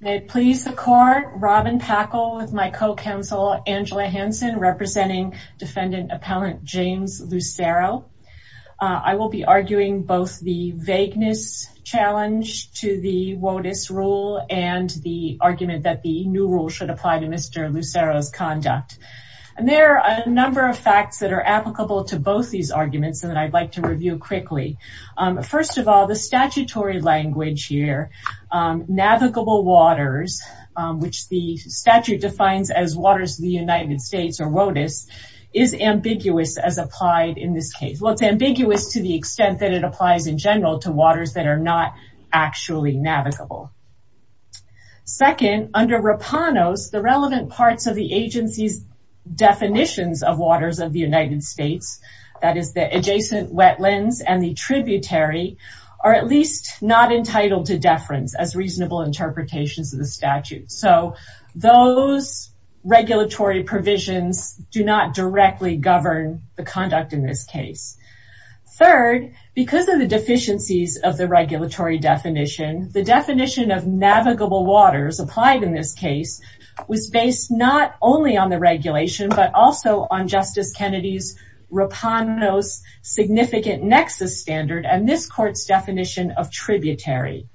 May it please the court, Robin Packle with my co-counsel Angela Hansen representing defendant appellant James Lucero. I will be arguing both the vagueness challenge to the WOTUS rule and the argument that the new rule should apply to Mr. Lucero's conduct. And there are a number of facts that are applicable to both these arguments that I'd like to review quickly. First of all, the statutory language here, navigable waters, which the statute defines as waters of the United States or WOTUS, is ambiguous as applied in this case. Well, it's ambiguous to the extent that it applies in general to waters that are not actually navigable. Second, under Rapanos, the relevant parts of the agency's definitions of waters of the United States, that is the adjacent wetlands and the tributary, are at least not entitled to deference as reasonable interpretations of the statute. So those regulatory provisions do not directly govern the conduct in this case. Third, because of the deficiencies of the regulatory definition, the definition of navigable waters applied in this case was based not only on the regulation, but also on Justice Kennedy's Rapanos significant nexus standard and this court's definition of tributary.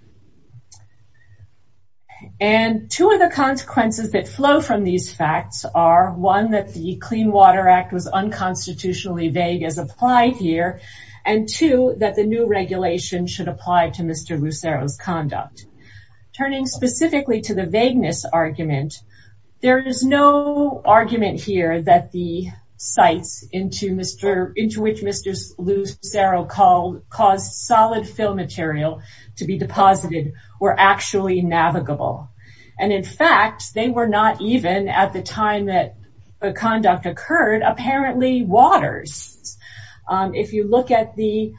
And two of the consequences that flow from these facts are, one, that the Clean Water Act was unconstitutionally vague as applied here, and two, that the new regulation should apply to Mr. Lucero's conduct. Turning specifically to the vagueness argument, there is no argument here that the Mr. Lucero caused solid fill material to be deposited were actually navigable. And in fact, they were not even at the time that the conduct occurred, apparently waters. If you look at the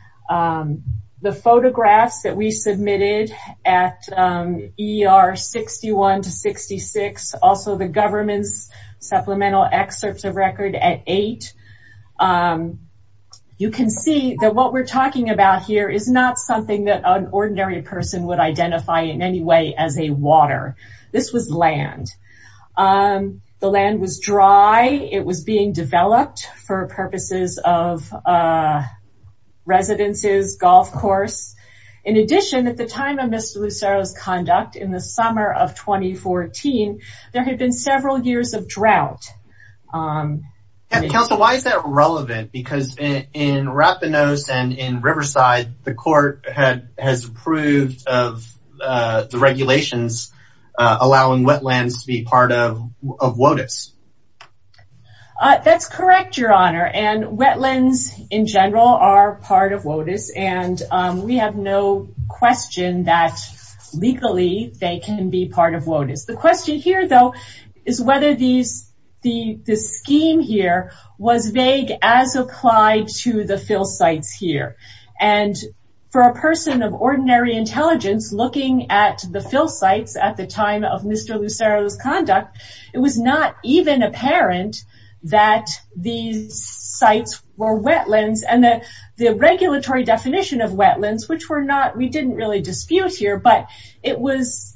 photographs that we submitted at ER 61 to 66, also the government's supplemental excerpts of record at eight, you can see that what we're talking about here is not something that an ordinary person would identify in any way as a water. This was land. The land was dry. It was being developed for purposes of residences, golf course. In addition, at the time of Mr. Lucero's conduct, in the summer of 2014, there had been several years of drought. Counsel, why is that relevant? Because in Rapanos and in Riverside, the court has approved of the regulations allowing wetlands to be part of WOTUS. That's correct, your honor. And wetlands in general are part of WOTUS. And we have no question that legally they can be part of WOTUS. The question here, though, is whether the scheme here was vague as applied to the fill sites here. And for a person of ordinary intelligence, looking at the fill sites at the time of Mr. Lucero's conduct, it was not even apparent that these sites were wetlands and that the regulatory definition of wetlands, which we didn't really dispute here, but it was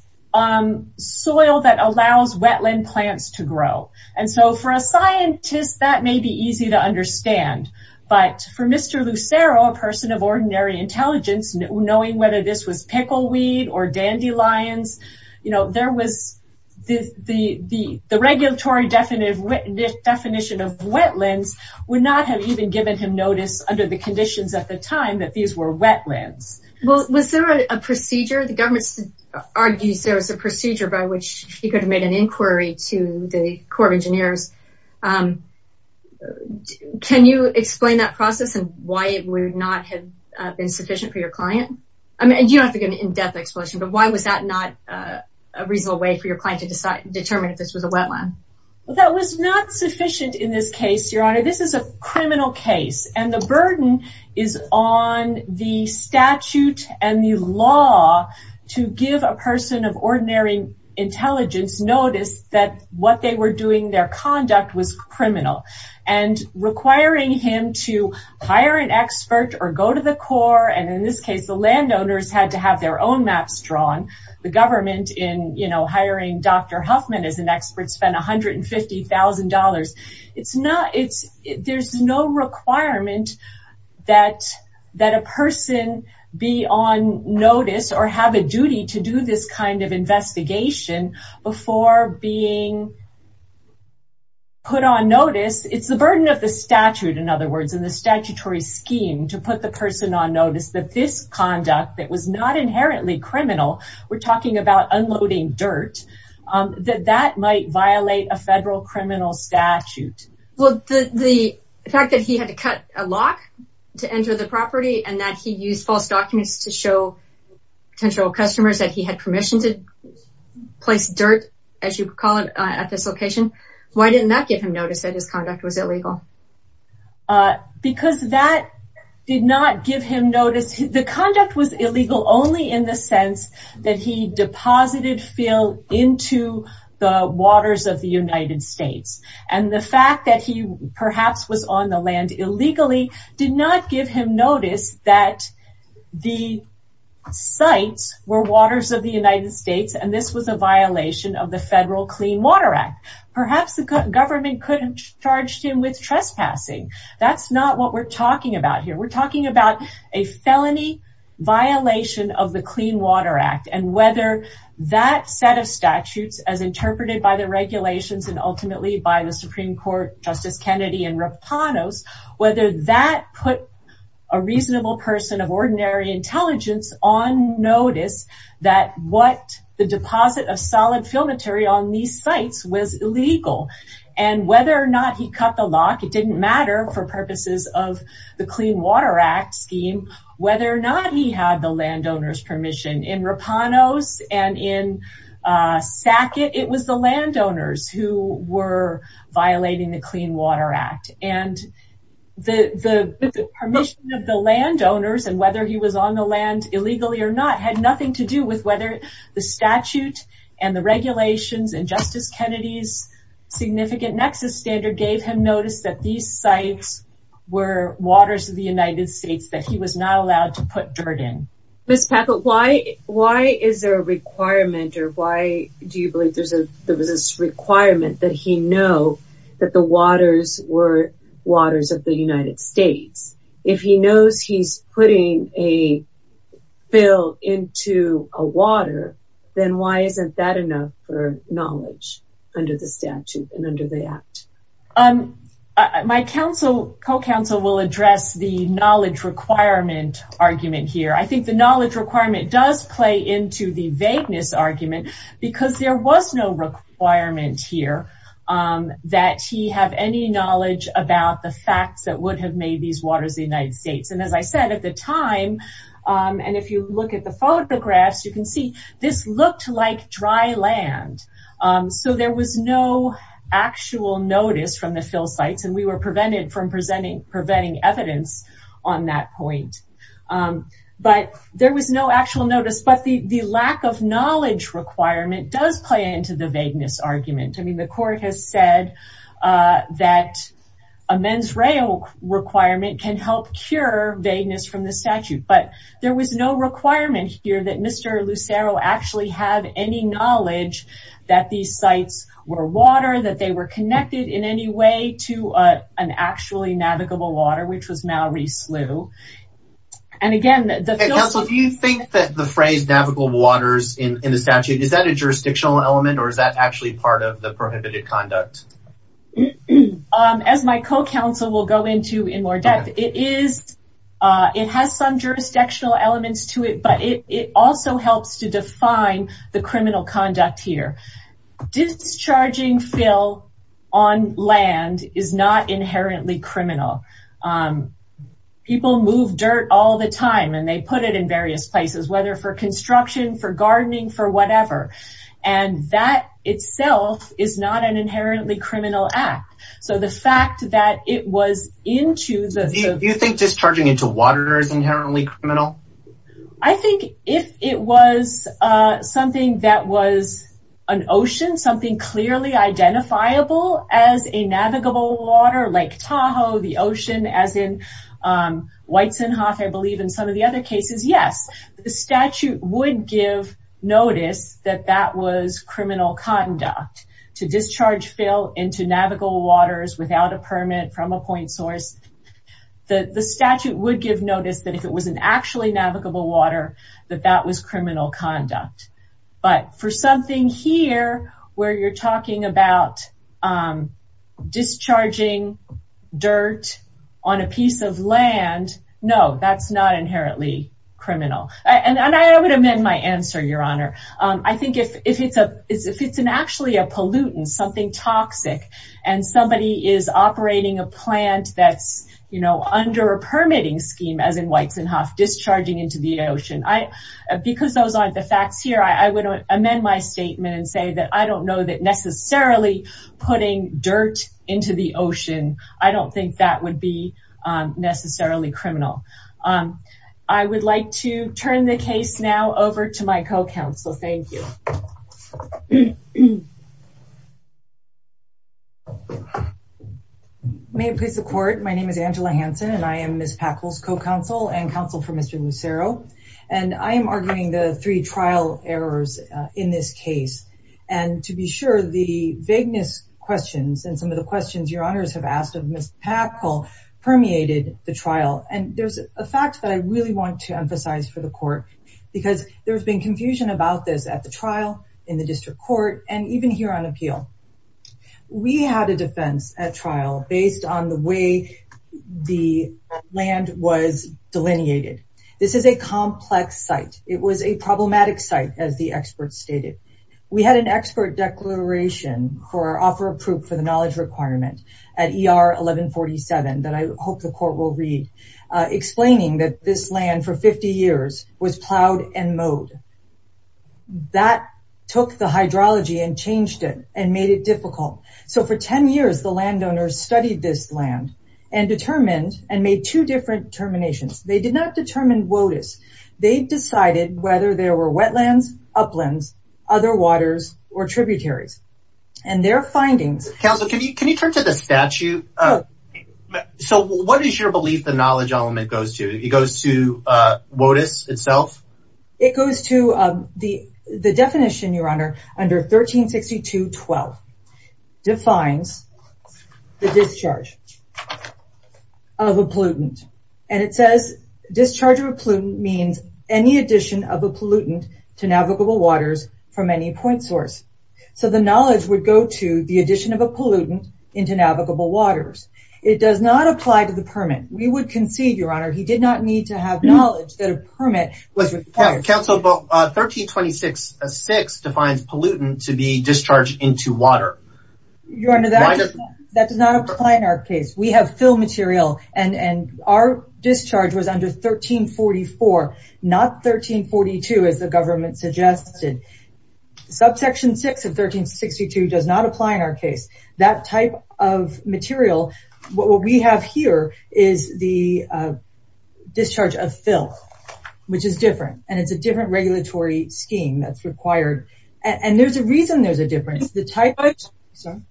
soil that allows wetland plants to grow. And so for a scientist, that may be easy to understand. But for Mr. Lucero, a person of ordinary intelligence, knowing whether this was pickleweed or dandelions, there was the regulatory definition of wetlands would not have even given him notice under the conditions at the time that these were wetlands. Well, was there a procedure? The government argues there was a procedure by which he could have made an inquiry to the Corps of Engineers. Can you explain that process and why it would not have been sufficient for your client? I mean, you don't have to give an in-depth explanation, but why was that not a reasonable way for your client to determine if this was a wetland? Well, that was not sufficient in this case, your honor. This is a criminal case and the burden is on the statute and the law to give a person of ordinary intelligence notice that what they were doing, their conduct was criminal. And requiring him to hire an expert or go to the Corps, and in this case, the landowners had to have their own maps drawn. The government in hiring Dr. Huffman as an expert spent $150,000. There's no requirement that a person be on notice or have a duty to do this kind of investigation before being put on notice. It's the burden of the statute, in other words, in the statutory scheme to put the person on notice that this conduct, that was not inherently criminal, we're talking about unloading dirt, that that might violate a federal criminal statute. Well, the fact that he had to cut a lock to enter the property and that he used false documents to show potential customers that he had permission to place dirt, as you call it, at this location, why didn't that give him notice that his conduct was illegal? Because that did not give him notice. The conduct was illegal only in the sense that he deposited fill into the waters of the United States. And the fact that he perhaps was on the land illegally did not give him notice that the sites were waters of the United States and this was a violation of federal Clean Water Act. Perhaps the government could have charged him with trespassing. That's not what we're talking about here. We're talking about a felony violation of the Clean Water Act and whether that set of statutes as interpreted by the regulations and ultimately by the Supreme Court, Justice Kennedy and Rapanos, whether that put a reasonable person of ordinary intelligence on notice that what the deposit of solid fill material on these sites was illegal. And whether or not he cut the lock, it didn't matter for purposes of the Clean Water Act scheme, whether or not he had the landowner's permission. In Rapanos and in Sackett, it was the landowners who were violating the Clean Water Act. And the permission of the landowners and whether he was on the land illegally or not had nothing to do with whether the statute and the regulations and Justice Kennedy's significant nexus standard gave him notice that these sites were waters of the United States that he was not allowed to put dirt in. Ms. Packett, why is there a requirement or why do you believe there's a there was this requirement that he know that the waters were waters of the fill into a water, then why isn't that enough for knowledge under the statute and under the act? My counsel, co-counsel will address the knowledge requirement argument here. I think the knowledge requirement does play into the vagueness argument because there was no requirement here that he have any knowledge about the facts that would have made these waters the United States. And as I said, at the time, and if you look at the photographs, you can see this looked like dry land. So there was no actual notice from the fill sites and we were prevented from presenting preventing evidence on that point. But there was no actual notice. But the lack of knowledge requirement does play into the vagueness argument. I mean, the court has said that a mens reo requirement can help cure vagueness from the statute, but there was no requirement here that Mr. Lucero actually have any knowledge that these sites were water, that they were connected in any way to an actually navigable water, which was Mallory Slough. And again, do you think that the phrase navigable waters in the statute, is that a jurisdictional element or is that actually part of the prohibitive conduct? As my co-counsel will go into in more depth, it has some jurisdictional elements to it, but it also helps to define the criminal conduct here. Discharging fill on land is not inherently criminal. People move dirt all the time and they put it in various places, whether for construction, for gardening, for whatever. And that itself is not an inherently criminal act. So the fact that it was into the... Do you think discharging into water is inherently criminal? I think if it was something that was an ocean, something clearly identifiable as a navigable water, Lake Tahoe, the ocean as in White's and Hoff, I believe in some of the other cases, yes, the statute would give notice that that was criminal conduct to discharge fill into navigable waters without a permit from a point source. The statute would give notice that if it was an actually navigable water, that that was criminal conduct. But for something here where you're talking about discharging dirt on a piece of land, no, that's not inherently criminal. And I would amend my answer, Your Honor. I think if it's actually a pollutant, something toxic, and somebody is operating a plant that's under a permitting scheme as in White's and Hoff, discharging into the ocean, because those aren't the facts here, I would amend my statement and I don't know that necessarily putting dirt into the ocean, I don't think that would be necessarily criminal. I would like to turn the case now over to my co-counsel. Thank you. May it please the court. My name is Angela Hansen and I am Ms. Packle's co-counsel and counsel for to be sure the vagueness questions and some of the questions Your Honors have asked of Ms. Packle permeated the trial. And there's a fact that I really want to emphasize for the court, because there's been confusion about this at the trial, in the district court, and even here on appeal. We had a defense at trial based on the way the land was delineated. This is a complex site. It was a problematic site, as the experts stated. We had an expert declaration for offer of proof for the knowledge requirement at ER 1147 that I hope the court will read, explaining that this land for 50 years was plowed and mowed. That took the hydrology and changed it and made it difficult. So for 10 years, the landowners studied this land and determined and made two different determinations. They did not determine WOTUS. They decided whether there were wetlands, uplands, other waters, or tributaries. And their findings... Counsel, can you turn to the statute? So what is your belief the knowledge element goes to? It goes to WOTUS itself? It goes to the definition, Your Honor, under 1362.12. Defines the discharge of a pollutant. And it says discharge of a pollutant means any addition of a pollutant to navigable waters from any point source. So the knowledge would go to the addition of a pollutant into navigable waters. It does not apply to the permit. We would concede, Your Honor, he did not need to have knowledge that a permit was required. Counsel, 1326.6 defines pollutant to be discharged into water. Your Honor, that does not apply in our case. We have fill material. And our discharge was under 1344, not 1342, as the government suggested. Subsection 6 of 1362 does not apply in our case. That type of material, what we have here is the discharge of fill, which is different. And it's a different regulatory scheme that's required. And there's a reason there's a difference.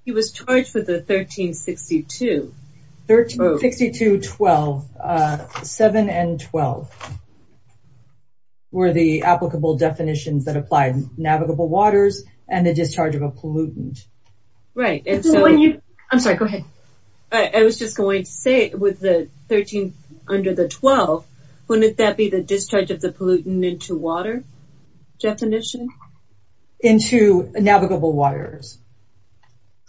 He was charged for the 1362. 1362.7 and 12 were the applicable definitions that applied navigable waters and the discharge of a pollutant. Right. I'm sorry, go ahead. I was just going to say with the 13 under the 12, wouldn't that be the discharge of the pollutant into water definition? Into navigable waters.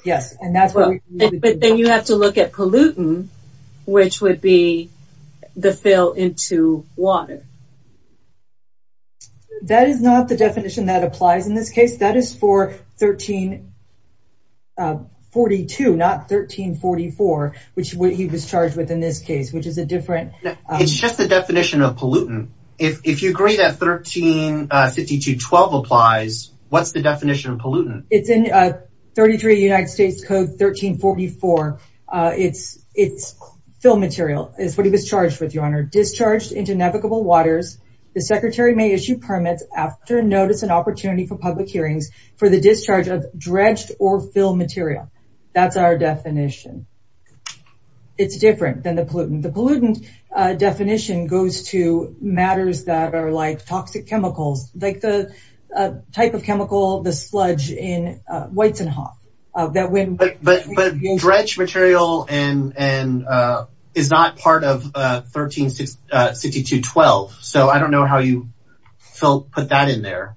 Yes. But then you have to look at pollutant, which would be the fill into water. That is not the definition that applies in this case. That is for 1342, not 1344, which he was charged with in this case, which is a different... It's just the definition of pollutant. If you agree that 1362.12 applies, what's the definition of pollutant? It's in 33 United States Code 1344. It's fill material is what he was charged with, Your Honor. Discharged into navigable waters, the secretary may issue permits after notice and opportunity for public hearings for the discharge of dredged or fill material. That's our definition. It's different than the pollutant. The pollutant definition goes to matters that are like toxic chemicals, like the type of chemical, the sludge in Weizenhoff. But dredge material is not part of 1362.12. So I don't know how you put that in there.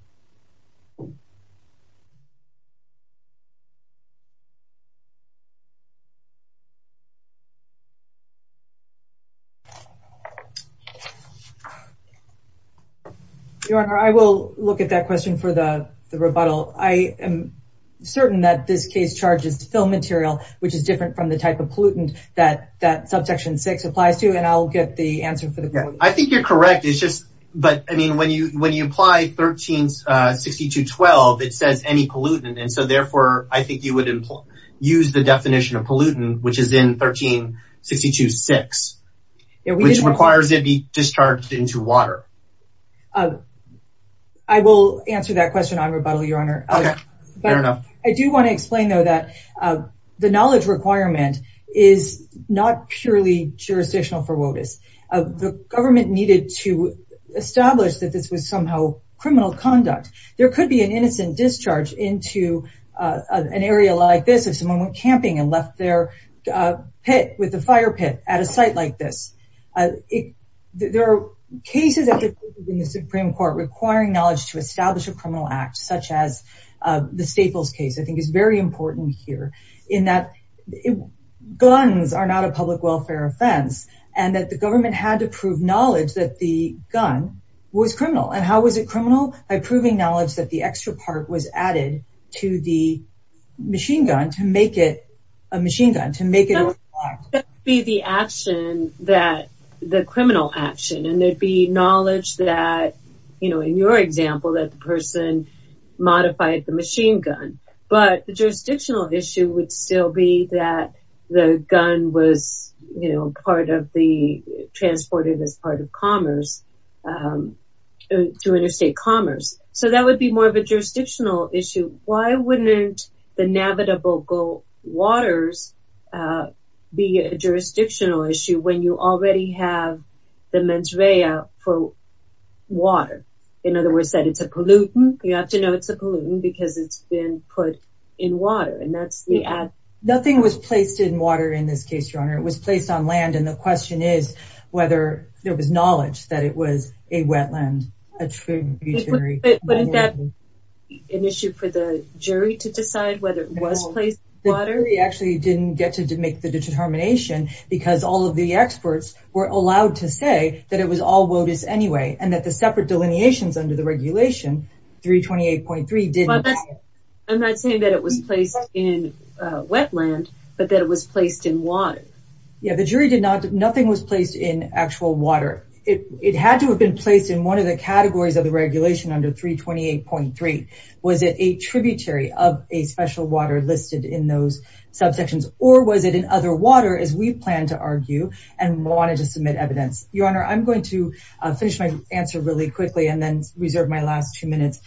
Your Honor, I will look at that question for the rebuttal. I am certain that this case charges fill material, which is different from the type of pollutant that subsection six applies to, and I'll get the answer for that. I think you're correct. But when you apply 1362.12, it says any pollutant. And so therefore, I think you would use the definition of pollutant, which is in 1362.6, which requires it be discharged into water. I will answer that question on rebuttal, Your Honor. I do want to explain, though, that the knowledge requirement is not purely jurisdictional for WOTUS. The government needed to establish that this was somehow criminal conduct. There could be an innocent discharge into an area like this if someone went camping and left their pit with a fire pit at a site like this. There are cases in the Supreme Court requiring knowledge to establish a criminal act, such as the Staples case, I think is very important here, in that guns are not a public welfare offense, and that the government had to prove knowledge that the gun was criminal. And how was it criminal? By proving knowledge that the extra part was added to the machine gun to make it a machine gun. No, that would be the criminal action, and there'd be knowledge that, you know, in your example, that the person modified the machine gun. But the jurisdictional issue would still be that the gun was, you know, part of the, transported as part of commerce, through interstate commerce. So that would be more of a jurisdictional issue. Why wouldn't the Navada Boko waters be a jurisdictional issue when you already have the mens rea for water? In other words, that it's a pollutant. You have to know it's a pollutant because it's been put in water, and that's the ad. Nothing was placed in water in this case, Your Honor. It was placed on land, and the question is whether there was knowledge that it was a wetland, a tributary. But isn't that an issue for the jury to decide whether it was placed in water? The jury actually didn't get to make the determination because all of the experts were allowed to say that it was all WOTUS anyway, and that the separate delineations under the regulation, 328.3, didn't. I'm not saying that it was placed in wetland, but that it was placed in water. Yeah, the jury did not. Nothing was placed in actual water. It had to have been placed in one of the categories of the regulation under 328.3. Was it a tributary of a special water listed in those subsections, or was it in other water, as we plan to argue and wanted to submit evidence? Your Honor, I'm going to finish my answer really quickly and then reserve my last two minutes.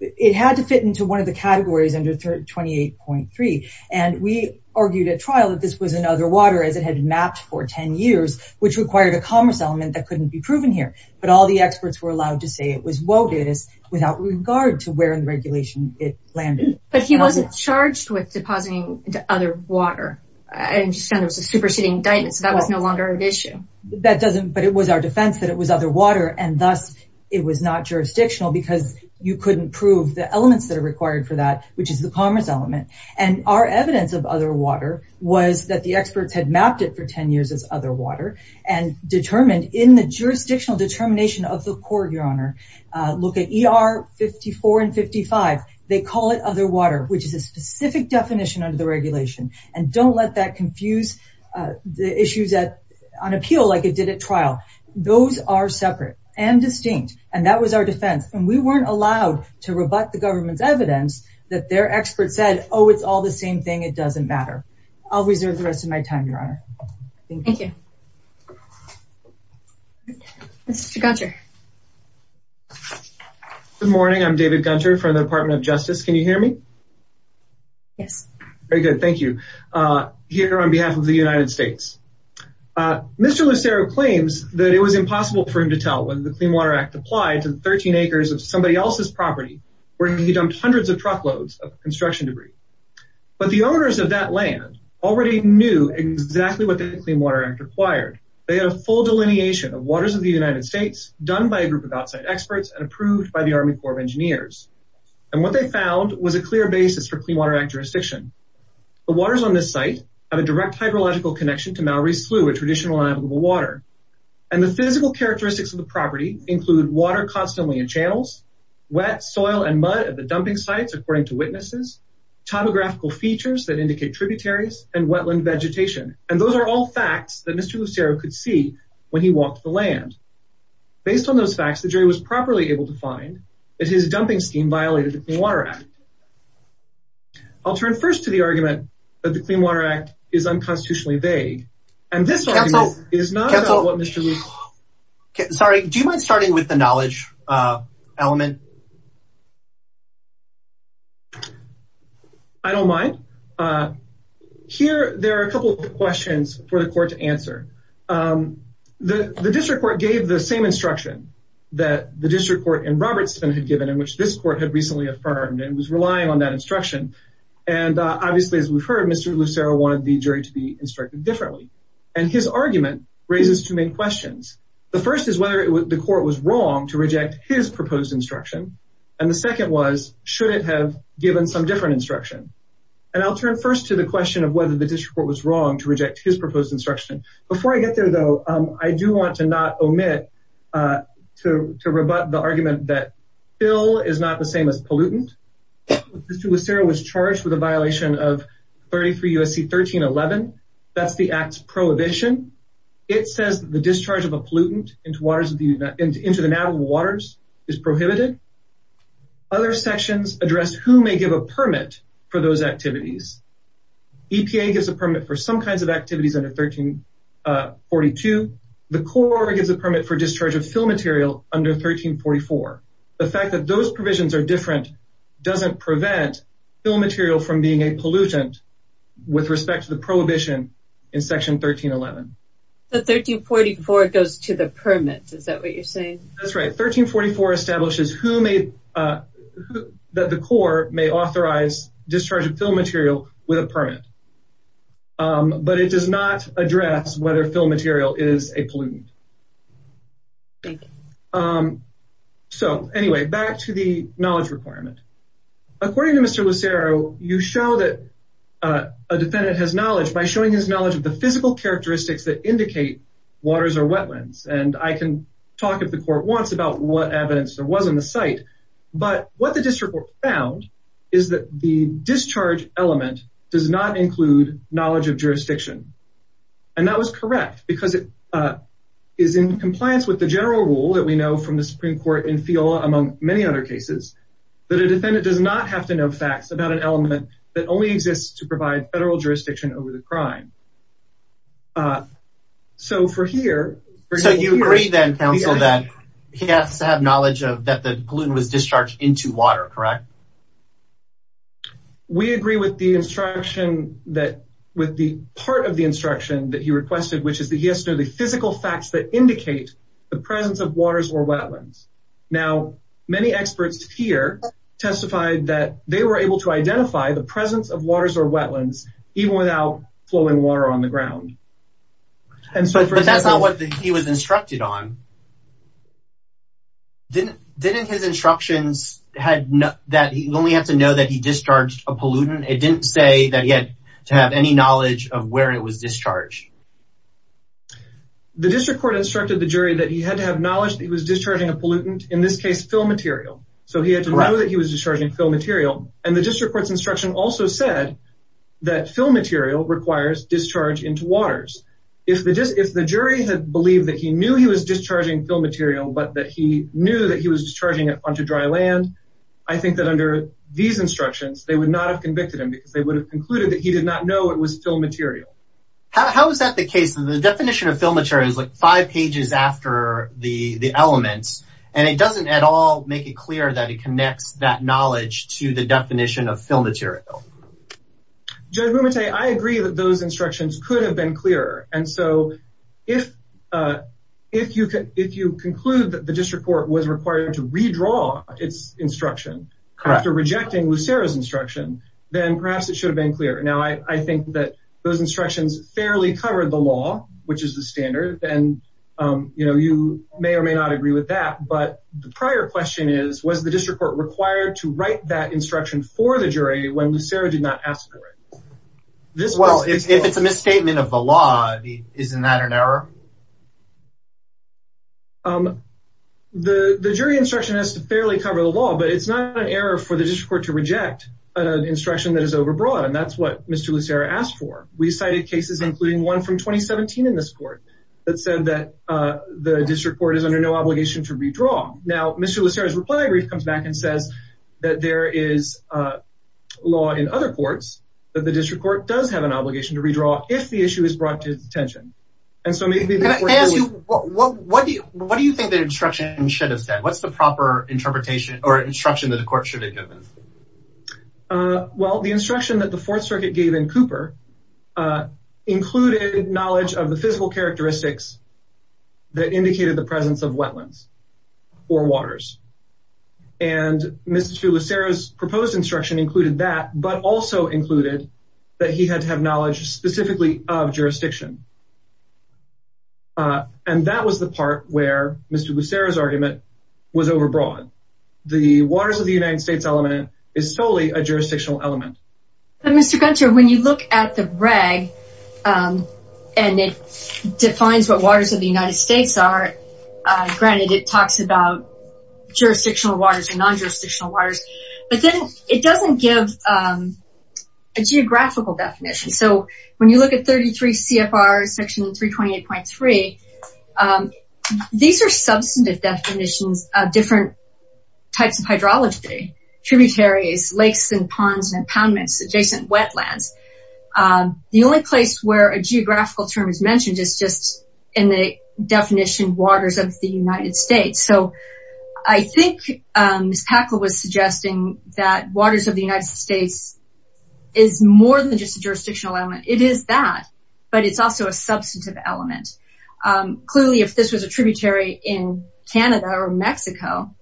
It had to fit into one of the categories under 328.3, and we argued at trial that this was in other water as it had been mapped for 10 years, which required a commerce element that couldn't be proven here. But all the experts were allowed to say it was WOTUS without regard to where in the regulation it landed. But he wasn't charged with depositing into other water. I understand the superseding indictment, so that was no longer an issue. But it was our defense that it was other water, and thus it was not jurisdictional because you couldn't prove the elements that are required for that, which is the commerce element. And our evidence of other water was that the experts had mapped it for 10 years as other water and determined in the jurisdictional determination of the court, Your Honor, look at ER 54 and 55. They call it other water, which is a specific definition under the regulation. And don't let that confuse the issues on appeal like it did at trial. Those are separate and distinct, and that was our defense. And we weren't allowed to rebut the government's evidence that their expert said, oh, it's all the same thing. It doesn't matter. I'll reserve the rest of my time, Your Honor. Thank you. Mr. Gunter. Good morning. I'm David Gunter from the Department of Justice. Can you hear me? Yes. Very good. Thank you. Here on behalf of the United States, Mr. Lucero claims that it was impossible for him to tell whether the Clean Water Act applied to the 13 acres of somebody else's property where he dumped hundreds of truckloads of construction debris. But the owners of that land already knew exactly what the Clean Water Act required. They had a full delineation of waters of the United States done by a group of outside experts and approved by the Army Corps of Engineers. And what they found was a clear basis for Clean Water Act jurisdiction. The waters on this site have a direct hydrological connection to Mowery Slough, a traditional unavailable water. And the physical characteristics of the property include water constantly in channels, wet soil and mud at the dumping sites, according to witnesses, topographical features that indicate tributaries, and wetland vegetation. And those are all facts that Mr. Lucero could see when he walked the land. Based on those facts, the jury was properly able to find that his dumping scheme violated the Clean Water Act. I'll turn first to the argument that the Clean Water Act is unconstitutionally vague. And this argument is not about what Mr. Lucero... Sorry, do you mind starting with the knowledge element? I don't mind. Here, there are a couple of questions for the court to answer. The district court gave the same instruction that the district court in Robertson had given in which this court had recently affirmed and was relying on that instruction. And obviously, as we've heard, Mr. Lucero wanted the jury to be instructed differently. And his argument raises two main questions. The first is whether the court was wrong to reject his proposed instruction. And the second was, should it have given some different instruction? And I'll turn first to the question of whether the district court was wrong to reject his proposed instruction. Before I get there, though, I do want to not omit to rebut the argument that Phil is not the same as pollutant. Mr. Lucero was charged with a violation of 33 U.S.C. 1311. That's the Act's prohibition. It says the discharge of a pollutant into the Navajo waters is prohibited. Other sections address who may give a permit for those activities. EPA gives a permit for some activities under 1342. The Corps gives a permit for discharge of fill material under 1344. The fact that those provisions are different doesn't prevent fill material from being a pollutant with respect to the prohibition in section 1311. The 1344 goes to the permit. Is that what you're saying? That's right. 1344 establishes who may, that the Corps may authorize discharge of fill material with a permit. But it does not address whether fill material is a pollutant. Thank you. So, anyway, back to the knowledge requirement. According to Mr. Lucero, you show that a defendant has knowledge by showing his knowledge of the physical characteristics that indicate waters or wetlands. And I can talk if the court wants about what evidence there was in the site. But what the district court found is that the discharge element does not include knowledge of jurisdiction. And that was correct because it is in compliance with the general rule that we know from the Supreme Court in FIOLA, among many other cases, that a defendant does not have to know facts about an element that only exists to provide federal jurisdiction over the pollutant was discharged into water. Correct. We agree with the instruction that with the part of the instruction that he requested, which is that he has to know the physical facts that indicate the presence of waters or wetlands. Now, many experts here testified that they were able to identify the presence of waters or wetlands even without flowing water on the ground. And so that's not what he was instructed on. Didn't his instructions had that he only had to know that he discharged a pollutant? It didn't say that he had to have any knowledge of where it was discharged. The district court instructed the jury that he had to have knowledge that he was discharging a pollutant, in this case, fill material. So he had to know that he was discharging fill material. And the district court's instruction also said that fill material requires discharge into waters. If the jury had believed that he knew he was discharging fill material, but that he knew that he was discharging it onto dry land, I think that under these instructions, they would not have convicted him because they would have concluded that he did not know it was fill material. How is that the case? The definition of fill material is like five pages after the elements, and it doesn't at all make it clear that it connects that knowledge to the definition of fill material. Judge Mumete, I agree that those instructions could have been clearer. And so if you conclude that the district court was required to redraw its instruction after rejecting Lucero's instruction, then perhaps it should have been clearer. Now, I think that those instructions fairly covered the law, which is the standard, and you may or may not agree with that. But the prior question is, was the district court to write that instruction for the jury when Lucero did not ask for it? If it's a misstatement of the law, isn't that an error? The jury instruction has to fairly cover the law, but it's not an error for the district court to reject an instruction that is overbroad. And that's what Mr. Lucero asked for. We cited cases, including one from 2017 in this court, that said that the district court is under no obligation to redraw an instruction if it is brought to its attention. What do you think the instruction should have said? What's the proper interpretation or instruction that the court should have given? Well, the instruction that the Fourth Circuit gave in Cooper included knowledge of the physical and Mr. Lucero's proposed instruction included that, but also included that he had to have knowledge specifically of jurisdiction. And that was the part where Mr. Lucero's argument was overbroad. The waters of the United States element is solely a jurisdictional element. Mr. Gunter, when you look at the reg, and it defines what waters of the United States are, granted it talks about jurisdictional waters and non-jurisdictional waters, but then it doesn't give a geographical definition. So when you look at 33 CFR section 328.3, these are substantive definitions of different types of hydrology, tributaries, lakes and ponds and impoundments, adjacent wetlands. The only place where a geographical term is mentioned is in the definition waters of the United States. So I think Ms. Packle was suggesting that waters of the United States is more than just a jurisdictional element. It is that, but it's also a substantive element. Clearly, if this was a tributary in Canada or Mexico,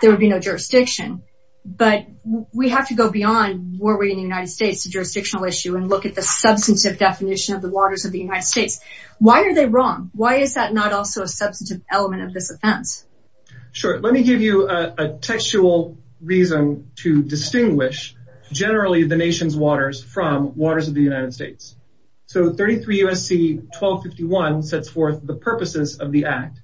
there would be no jurisdiction. But we have to go beyond, were we in the United States, a jurisdictional issue and look at the substantive definition of the waters of the United States. Why are they wrong? Why is that not also a substantive element of this offense? Sure. Let me give you a textual reason to distinguish generally the nation's waters from waters of the United States. So 33 USC 1251 sets forth the purposes of the act.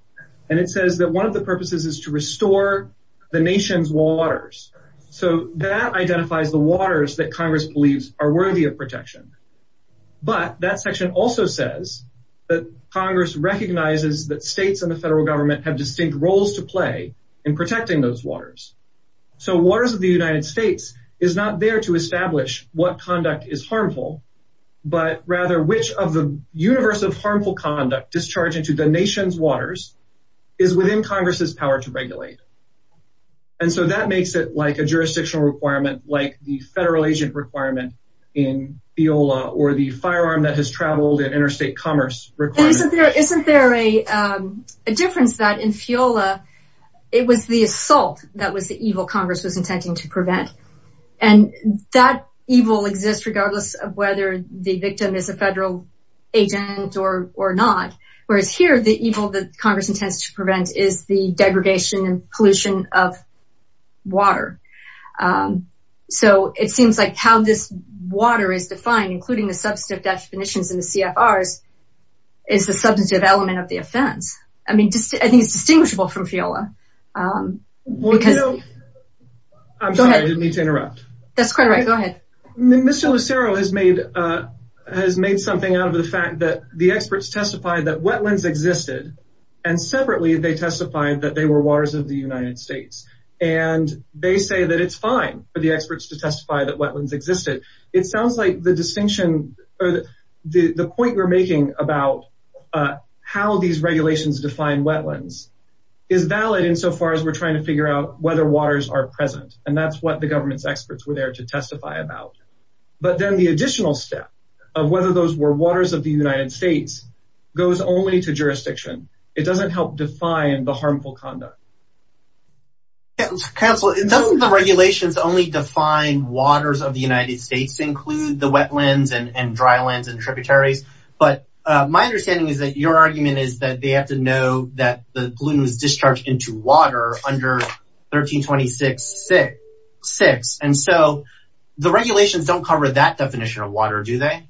And it says that one of the purposes is to restore the nation's waters. So that identifies the waters that Congress believes are worthy of protection. But that section also says that Congress recognizes that states and the federal government have distinct roles to play in protecting those waters. So waters of the United States is not there to establish what conduct is harmful, but rather which of the universe of harmful conduct discharging to the nation's waters is within Congress's power to regulate. And so that makes it like a jurisdictional requirement, like the federal agent requirement in Fiola or the firearm that has traveled in interstate commerce. Isn't there a difference that in Fiola, it was the assault that was the evil Congress was intending to prevent. And that evil exists regardless of whether the victim is a federal agent or not. Whereas here, the evil that Congress intends to prevent is the degradation and pollution of water. So it seems like how this water is defined, including the substantive definitions in the CFRs, is the substantive element of the offense. I mean, I think it's distinguishable from Fiola. I'm sorry, I didn't mean to interrupt. That's quite right. Go ahead. Mr. Lucero has made something out of the fact that the experts testified that waters of the United States, and they say that it's fine for the experts to testify that wetlands existed. It sounds like the distinction or the point we're making about how these regulations define wetlands is valid insofar as we're trying to figure out whether waters are present. And that's what the government's experts were there to testify about. But then the additional step of whether those were waters of the United States goes only to jurisdiction. It doesn't help define the harmful conduct. Counselor, doesn't the regulations only define waters of the United States include the wetlands and drylands and tributaries? But my understanding is that your argument is that they have to know that the pollutant was discharged into water under 1326.6. And so the regulations don't cover that definition of water, do they?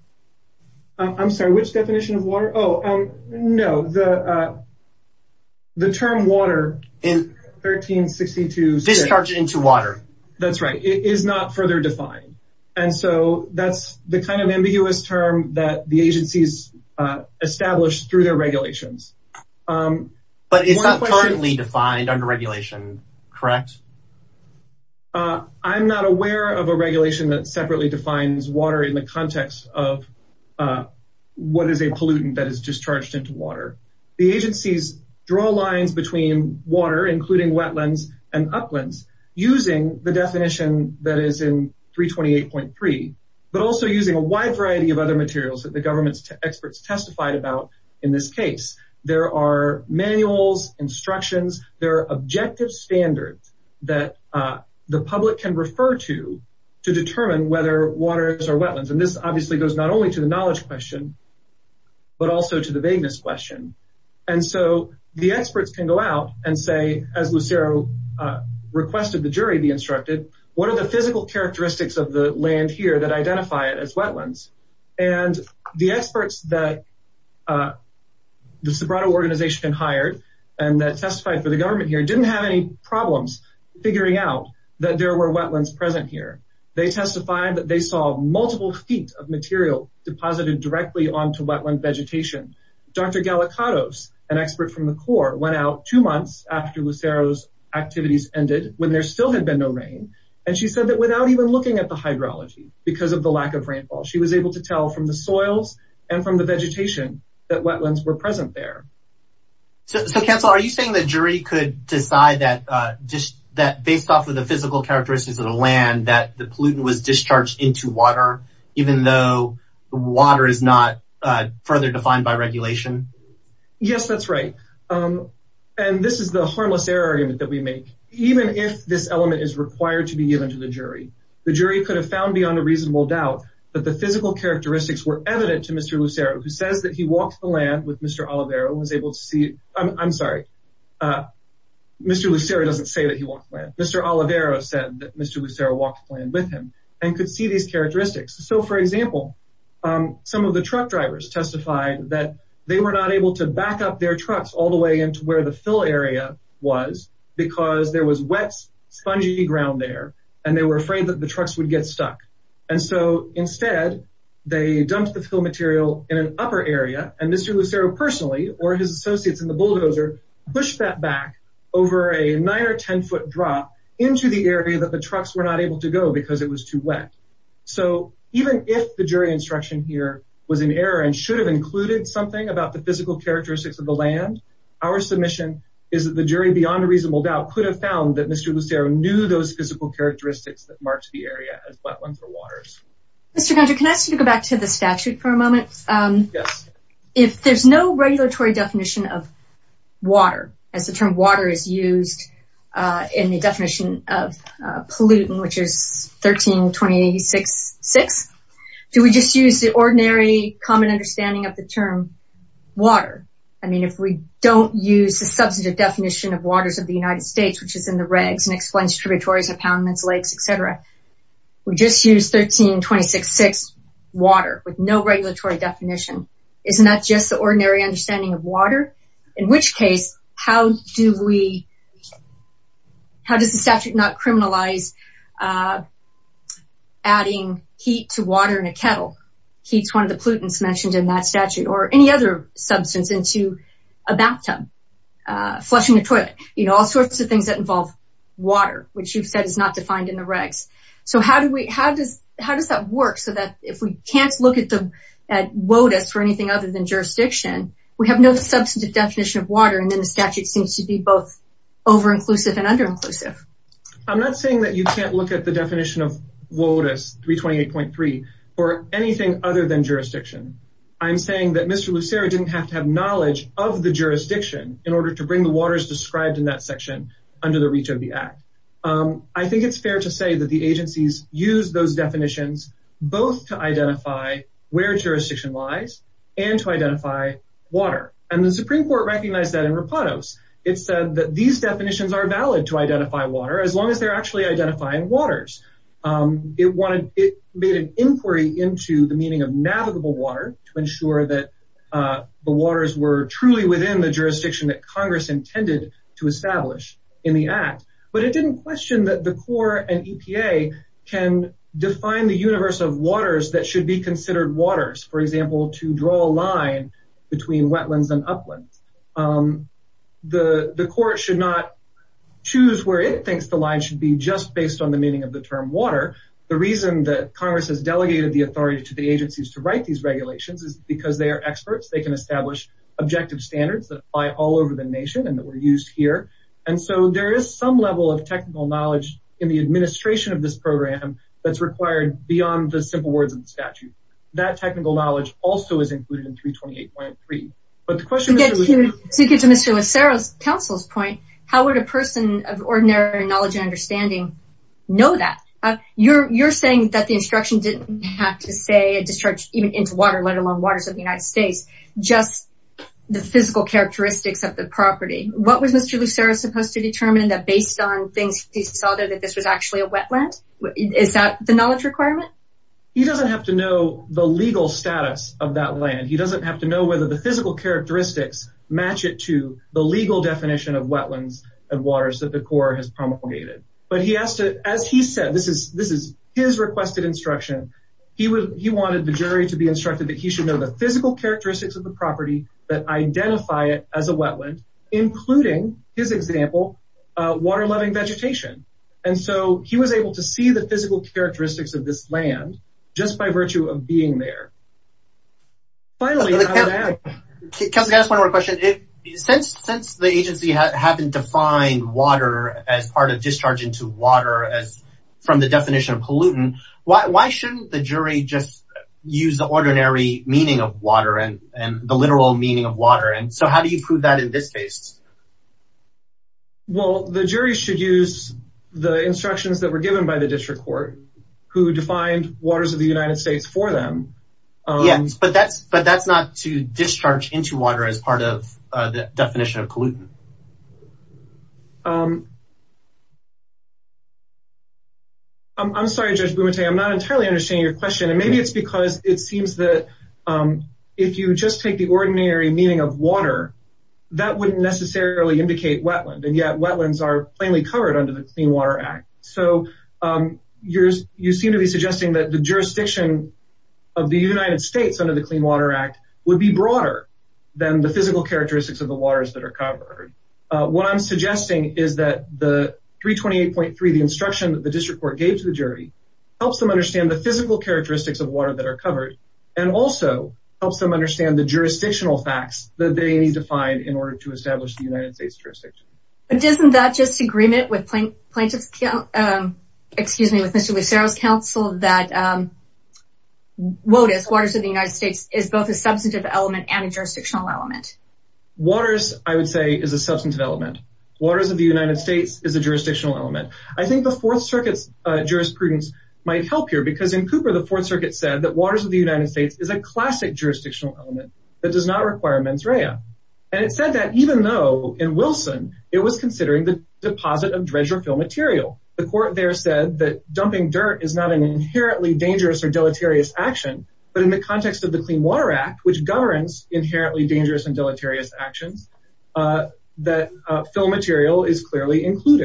I'm sorry, which definition of water? Oh, no. The term water in 1362... Discharged into water. That's right. It is not further defined. And so that's the kind of ambiguous term that the agencies established through their regulations. But it's not currently defined under regulation, correct? I'm not aware of a regulation that separately defines water in the context of what is a pollutant that is discharged into water. The agencies draw lines between water, including wetlands and uplands using the definition that is in 328.3, but also using a wide variety of other materials that the government's experts testified about in this case. There are manuals, instructions, there are objective standards that the public can refer to, to determine whether waters are wetlands. And this obviously goes not only to the knowledge question, but also to the vagueness question. And so the experts can go out and say, as Lucero requested the jury be instructed, what are the physical characteristics of the land here that identify it as wetlands? And the experts that the Sobrato organization hired and that testified for the government here didn't have any problems figuring out that there were wetlands present here. They testified that they saw multiple feet of material deposited directly onto wetland vegetation. Dr. Gallicados, an expert from the Corps, went out two months after Lucero's activities ended, when there still had been no rain, and she said that without even looking at the hydrology, because of the lack of rainfall, she was able to tell from the soils and from the vegetation that wetlands were present there. So Councilor, are you saying the jury could decide that just that based off of the physical characteristics of the land, that the pollutant was discharged into water, even though the water is not further defined by regulation? Yes, that's right. And this is the harmless error argument that we make. Even if this element is required to be given to jury, the jury could have found beyond a reasonable doubt that the physical characteristics were evident to Mr. Lucero, who says that he walked the land with Mr. Olivero and was able to see... I'm sorry, Mr. Lucero doesn't say that he walked the land. Mr. Olivero said that Mr. Lucero walked the land with him and could see these characteristics. So, for example, some of the truck drivers testified that they were not able to back up their trucks all the way into where the spongy ground there, and they were afraid that the trucks would get stuck. And so instead, they dumped the fill material in an upper area, and Mr. Lucero personally, or his associates in the bulldozer, pushed that back over a nine or ten foot drop into the area that the trucks were not able to go because it was too wet. So even if the jury instruction here was an error and should have included something about the physical characteristics of the land, our submission is that the jury beyond a reasonable doubt could have found that Mr. Lucero knew those physical characteristics that marked the area as wetlands or waters. Mr. Gunter, can I ask you to go back to the statute for a moment? Yes. If there's no regulatory definition of water, as the term water is used in the definition of pollutant, which is 13-20-86-6, do we just use the ordinary common understanding of the term water? I mean, if we don't use the substantive definition of waters of the United States, which is in the regs and explains tributaries, impoundments, lakes, et cetera, we just use 13-20-86-6, water with no regulatory definition. Isn't that just the ordinary understanding of water? In which case, how does the statute not criminalize adding heat to water in a kettle? Heat's one of the pollutants mentioned in that statute, or any other substance into a bathtub, flushing the toilet, all sorts of things that involve water, which you've said is not defined in the regs. So how does that work so that if we can't look at WOTUS or anything other than jurisdiction, we have no substantive definition of water, and then the statute seems to be both over-inclusive and under-inclusive. I'm not saying that you can't look at the definition of WOTUS 328.3 for anything other than jurisdiction. I'm saying that Mr. Lucero didn't have to have knowledge of the jurisdiction in order to bring the waters described in that section under the reach of the Act. I think it's fair to say that the agencies use those definitions both to identify where jurisdiction lies and to identify water. And the Supreme Court recognized that in Repatos. It said that these definitions are valid to identify water as long as they're actually identifying waters. It made an inquiry into the meaning of navigable water to ensure that the waters were truly within the jurisdiction that Congress intended to establish in the Act. But it didn't question that the Corps and EPA can define the universe of waters that should be considered waters. For example, to draw a line between uplands and wetlands. The Court should not choose where it thinks the line should be just based on the meaning of the term water. The reason that Congress has delegated the authority to the agencies to write these regulations is because they are experts. They can establish objective standards that apply all over the nation and that were used here. And so there is some level of technical knowledge in the administration of this program that's required beyond the simple words in the statute. That technical knowledge also is included in 328.3. But the question... To get to Mr. Lucero's counsel's point, how would a person of ordinary knowledge and understanding know that? You're saying that the instruction didn't have to say a discharge even into water, let alone waters of the United States, just the physical characteristics of the property. What was Mr. Lucero supposed to determine that based on things he saw there that this was actually a legal status of that land? He doesn't have to know whether the physical characteristics match it to the legal definition of wetlands and waters that the Court has promulgated. But he asked, as he said, this is his requested instruction. He wanted the jury to be instructed that he should know the physical characteristics of the property that identify it as a wetland, including his example, water-loving vegetation. And so he was able to see the physical characteristics of this land just by virtue of being there. Finally... Counselor Gattis, one more question. Since the agency haven't defined water as part of discharge into water as from the definition of pollutant, why shouldn't the jury just use the ordinary meaning of water and the literal meaning of water? And so how do you prove that in this case? Well, the jury should use the instructions that were given by the District Court, who defined waters of the United States for them. Yes, but that's not to discharge into water as part of the definition of pollutant. I'm sorry, Judge Bumate, I'm not entirely understanding your question. And maybe it's because it seems that if you just take the ordinary meaning of water, that wouldn't necessarily indicate wetland, and yet wetlands are plainly covered under the Clean Water Act. So you seem to be suggesting that the jurisdiction of the United States under the Clean Water Act would be broader than the physical characteristics of the waters that are covered. What I'm suggesting is that the 328.3, the instruction that the District Court gave to the jury, helps them understand the physical characteristics of water that are covered, and also helps them understand the jurisdictional facts that they need to find in order to establish the United States jurisdiction. But isn't that just agreement with Mr. Lucero's counsel that waters of the United States is both a substantive element and a jurisdictional element? Waters, I would say, is a substantive element. Waters of the United States is a jurisdictional element. I think the Fourth Circuit's jurisprudence might help here, because in Cooper, the Fourth Circuit said that waters of the United States is a classic jurisdictional element that does not require mens rea. And it said that even though, in Wilson, it was considering the deposit of dredge or fill material. The court there said that dumping dirt is not an inherently dangerous or deleterious action, but in the context of the Clean Water Act, which governs inherently dangerous and deleterious actions, that fill material is different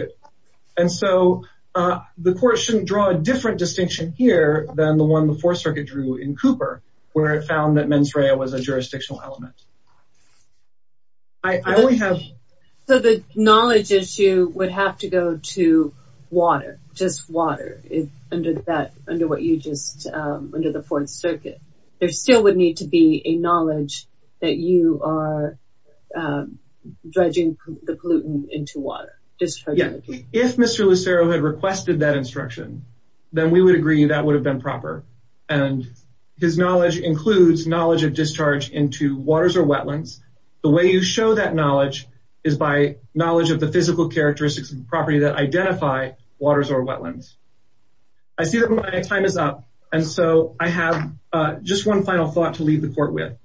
distinction here than the one the Fourth Circuit drew in Cooper, where it found that mens rea was a jurisdictional element. So the knowledge issue would have to go to water, just water, under the Fourth Circuit. There still would need to be a knowledge that you are dredging the pollutant into water. If Mr. Lucero had requested that instruction, then we would agree that would have been proper. And his knowledge includes knowledge of discharge into waters or wetlands. The way you show that knowledge is by knowledge of the physical characteristics of the property that identify waters or wetlands. I see that my time is up, and so I have just one final thought to leave the court with.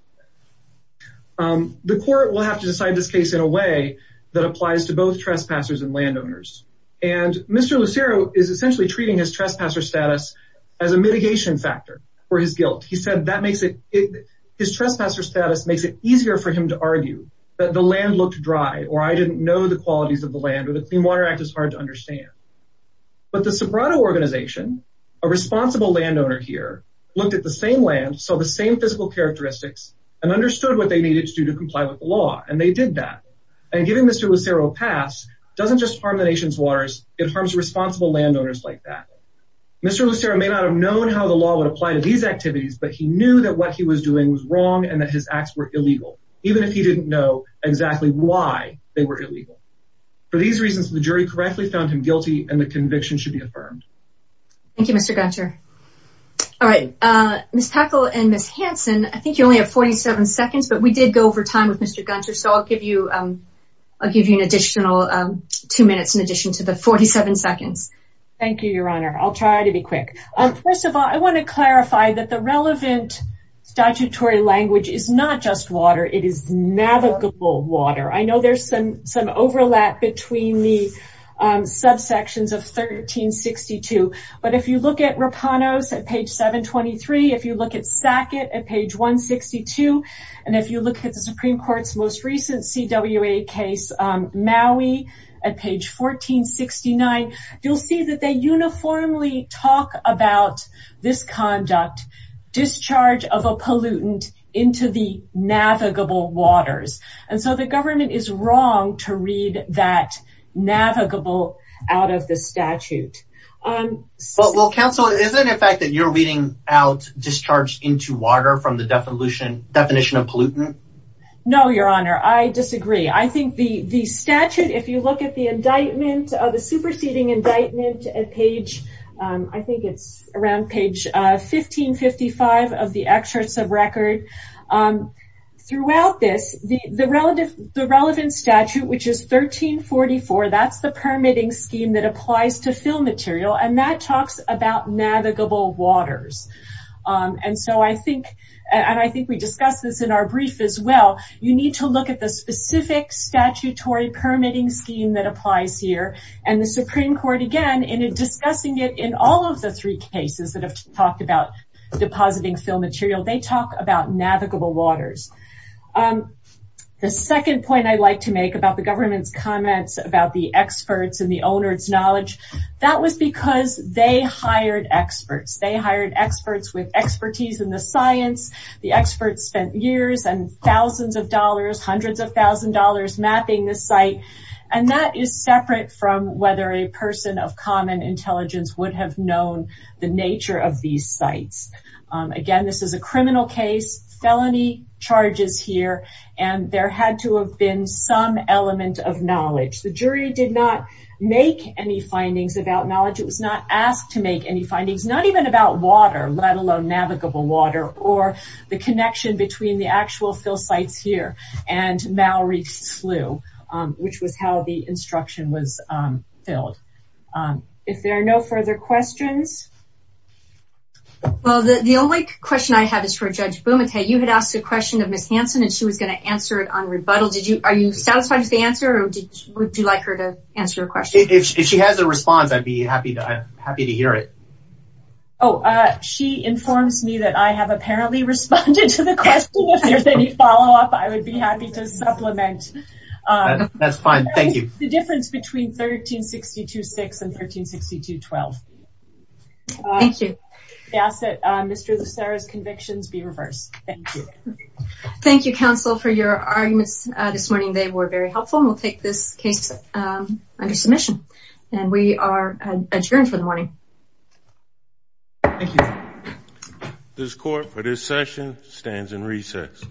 The court will have to decide this case in a way that applies to both trespassers and landowners. And Mr. Lucero is essentially treating his trespasser status as a mitigation factor for his guilt. He said his trespasser status makes it easier for him to argue that the land looked dry, or I didn't know the qualities of the land, or the Clean Water Act is hard to understand. But the Soprano organization, a responsible landowner here, looked at the same land, saw the same physical characteristics, and understood what they needed to do to comply with the law. And they did that. And giving Mr. Lucero a chance to argue that he was wrong, and that his actions were illegal, even if he didn't know exactly why they were illegal. For these reasons, the jury correctly found him guilty, and the conviction should be affirmed. Thank you, Mr. Gunter. All right, Ms. Packle and Ms. Hanson, I think you only have 47 seconds, but we did go over time with Mr. Gunter, so I'll give you an additional two minutes in addition to the 47 seconds. Thank you, Your Honor. I'll try to be quick. First of all, I want to clarify that the relevant statutory language is not just water, it is navigable water. I know there's some overlap between the subsections of 1362. But if you look at Rapanos at page 723, if you look at Sackett at page 162, and if you look at the Supreme Court's recent CWA case, Maui, at page 1469, you'll see that they uniformly talk about this conduct, discharge of a pollutant into the navigable waters. And so the government is wrong to read that navigable out of the statute. Well, counsel, isn't it a fact that you're reading out discharged into water from the definition of pollutant? No, Your Honor, I disagree. I think the statute, if you look at the indictment, the superseding indictment at page, I think it's around page 1555 of the Extracts of Record, throughout this, the relevant statute, which is 1344, that's the permitting scheme that applies to fill material, and that talks about navigable waters. And so I think, and I think we discussed this in our brief as well, you need to look at the specific statutory permitting scheme that applies here. And the Supreme Court, again, in discussing it in all of the three cases that have talked about depositing fill material, they talk about navigable waters. The second point I'd like to make about the government's comments about the with expertise in the science. The experts spent years and thousands of dollars, hundreds of thousand dollars mapping the site. And that is separate from whether a person of common intelligence would have known the nature of these sites. Again, this is a criminal case, felony charges here, and there had to have been some element of knowledge. The jury did not make any findings about knowledge. It was not asked to make any findings, not even about water, let alone navigable water, or the connection between the actual fill sites here and Malrie's slough, which was how the instruction was filled. If there are no further questions? Well, the only question I have is for Judge Bumate. You had asked a question of Ms. Hanson, and she was going to answer it on rebuttal. Did you, are you satisfied with the answer, or would you like her to answer your question? If she has a response, I'd be happy to hear it. Oh, she informs me that I have apparently responded to the question. If there's any follow-up, I would be happy to supplement. That's fine, thank you. The difference between 1362-6 and 1362-12. Thank you. I ask that Mr. Lucero's convictions be reversed. Thank you. Thank you, counsel, for your arguments this morning. They were very helpful. We'll take this case under submission, and we are adjourned for the morning. Thank you. This court, for this session, stands in recess.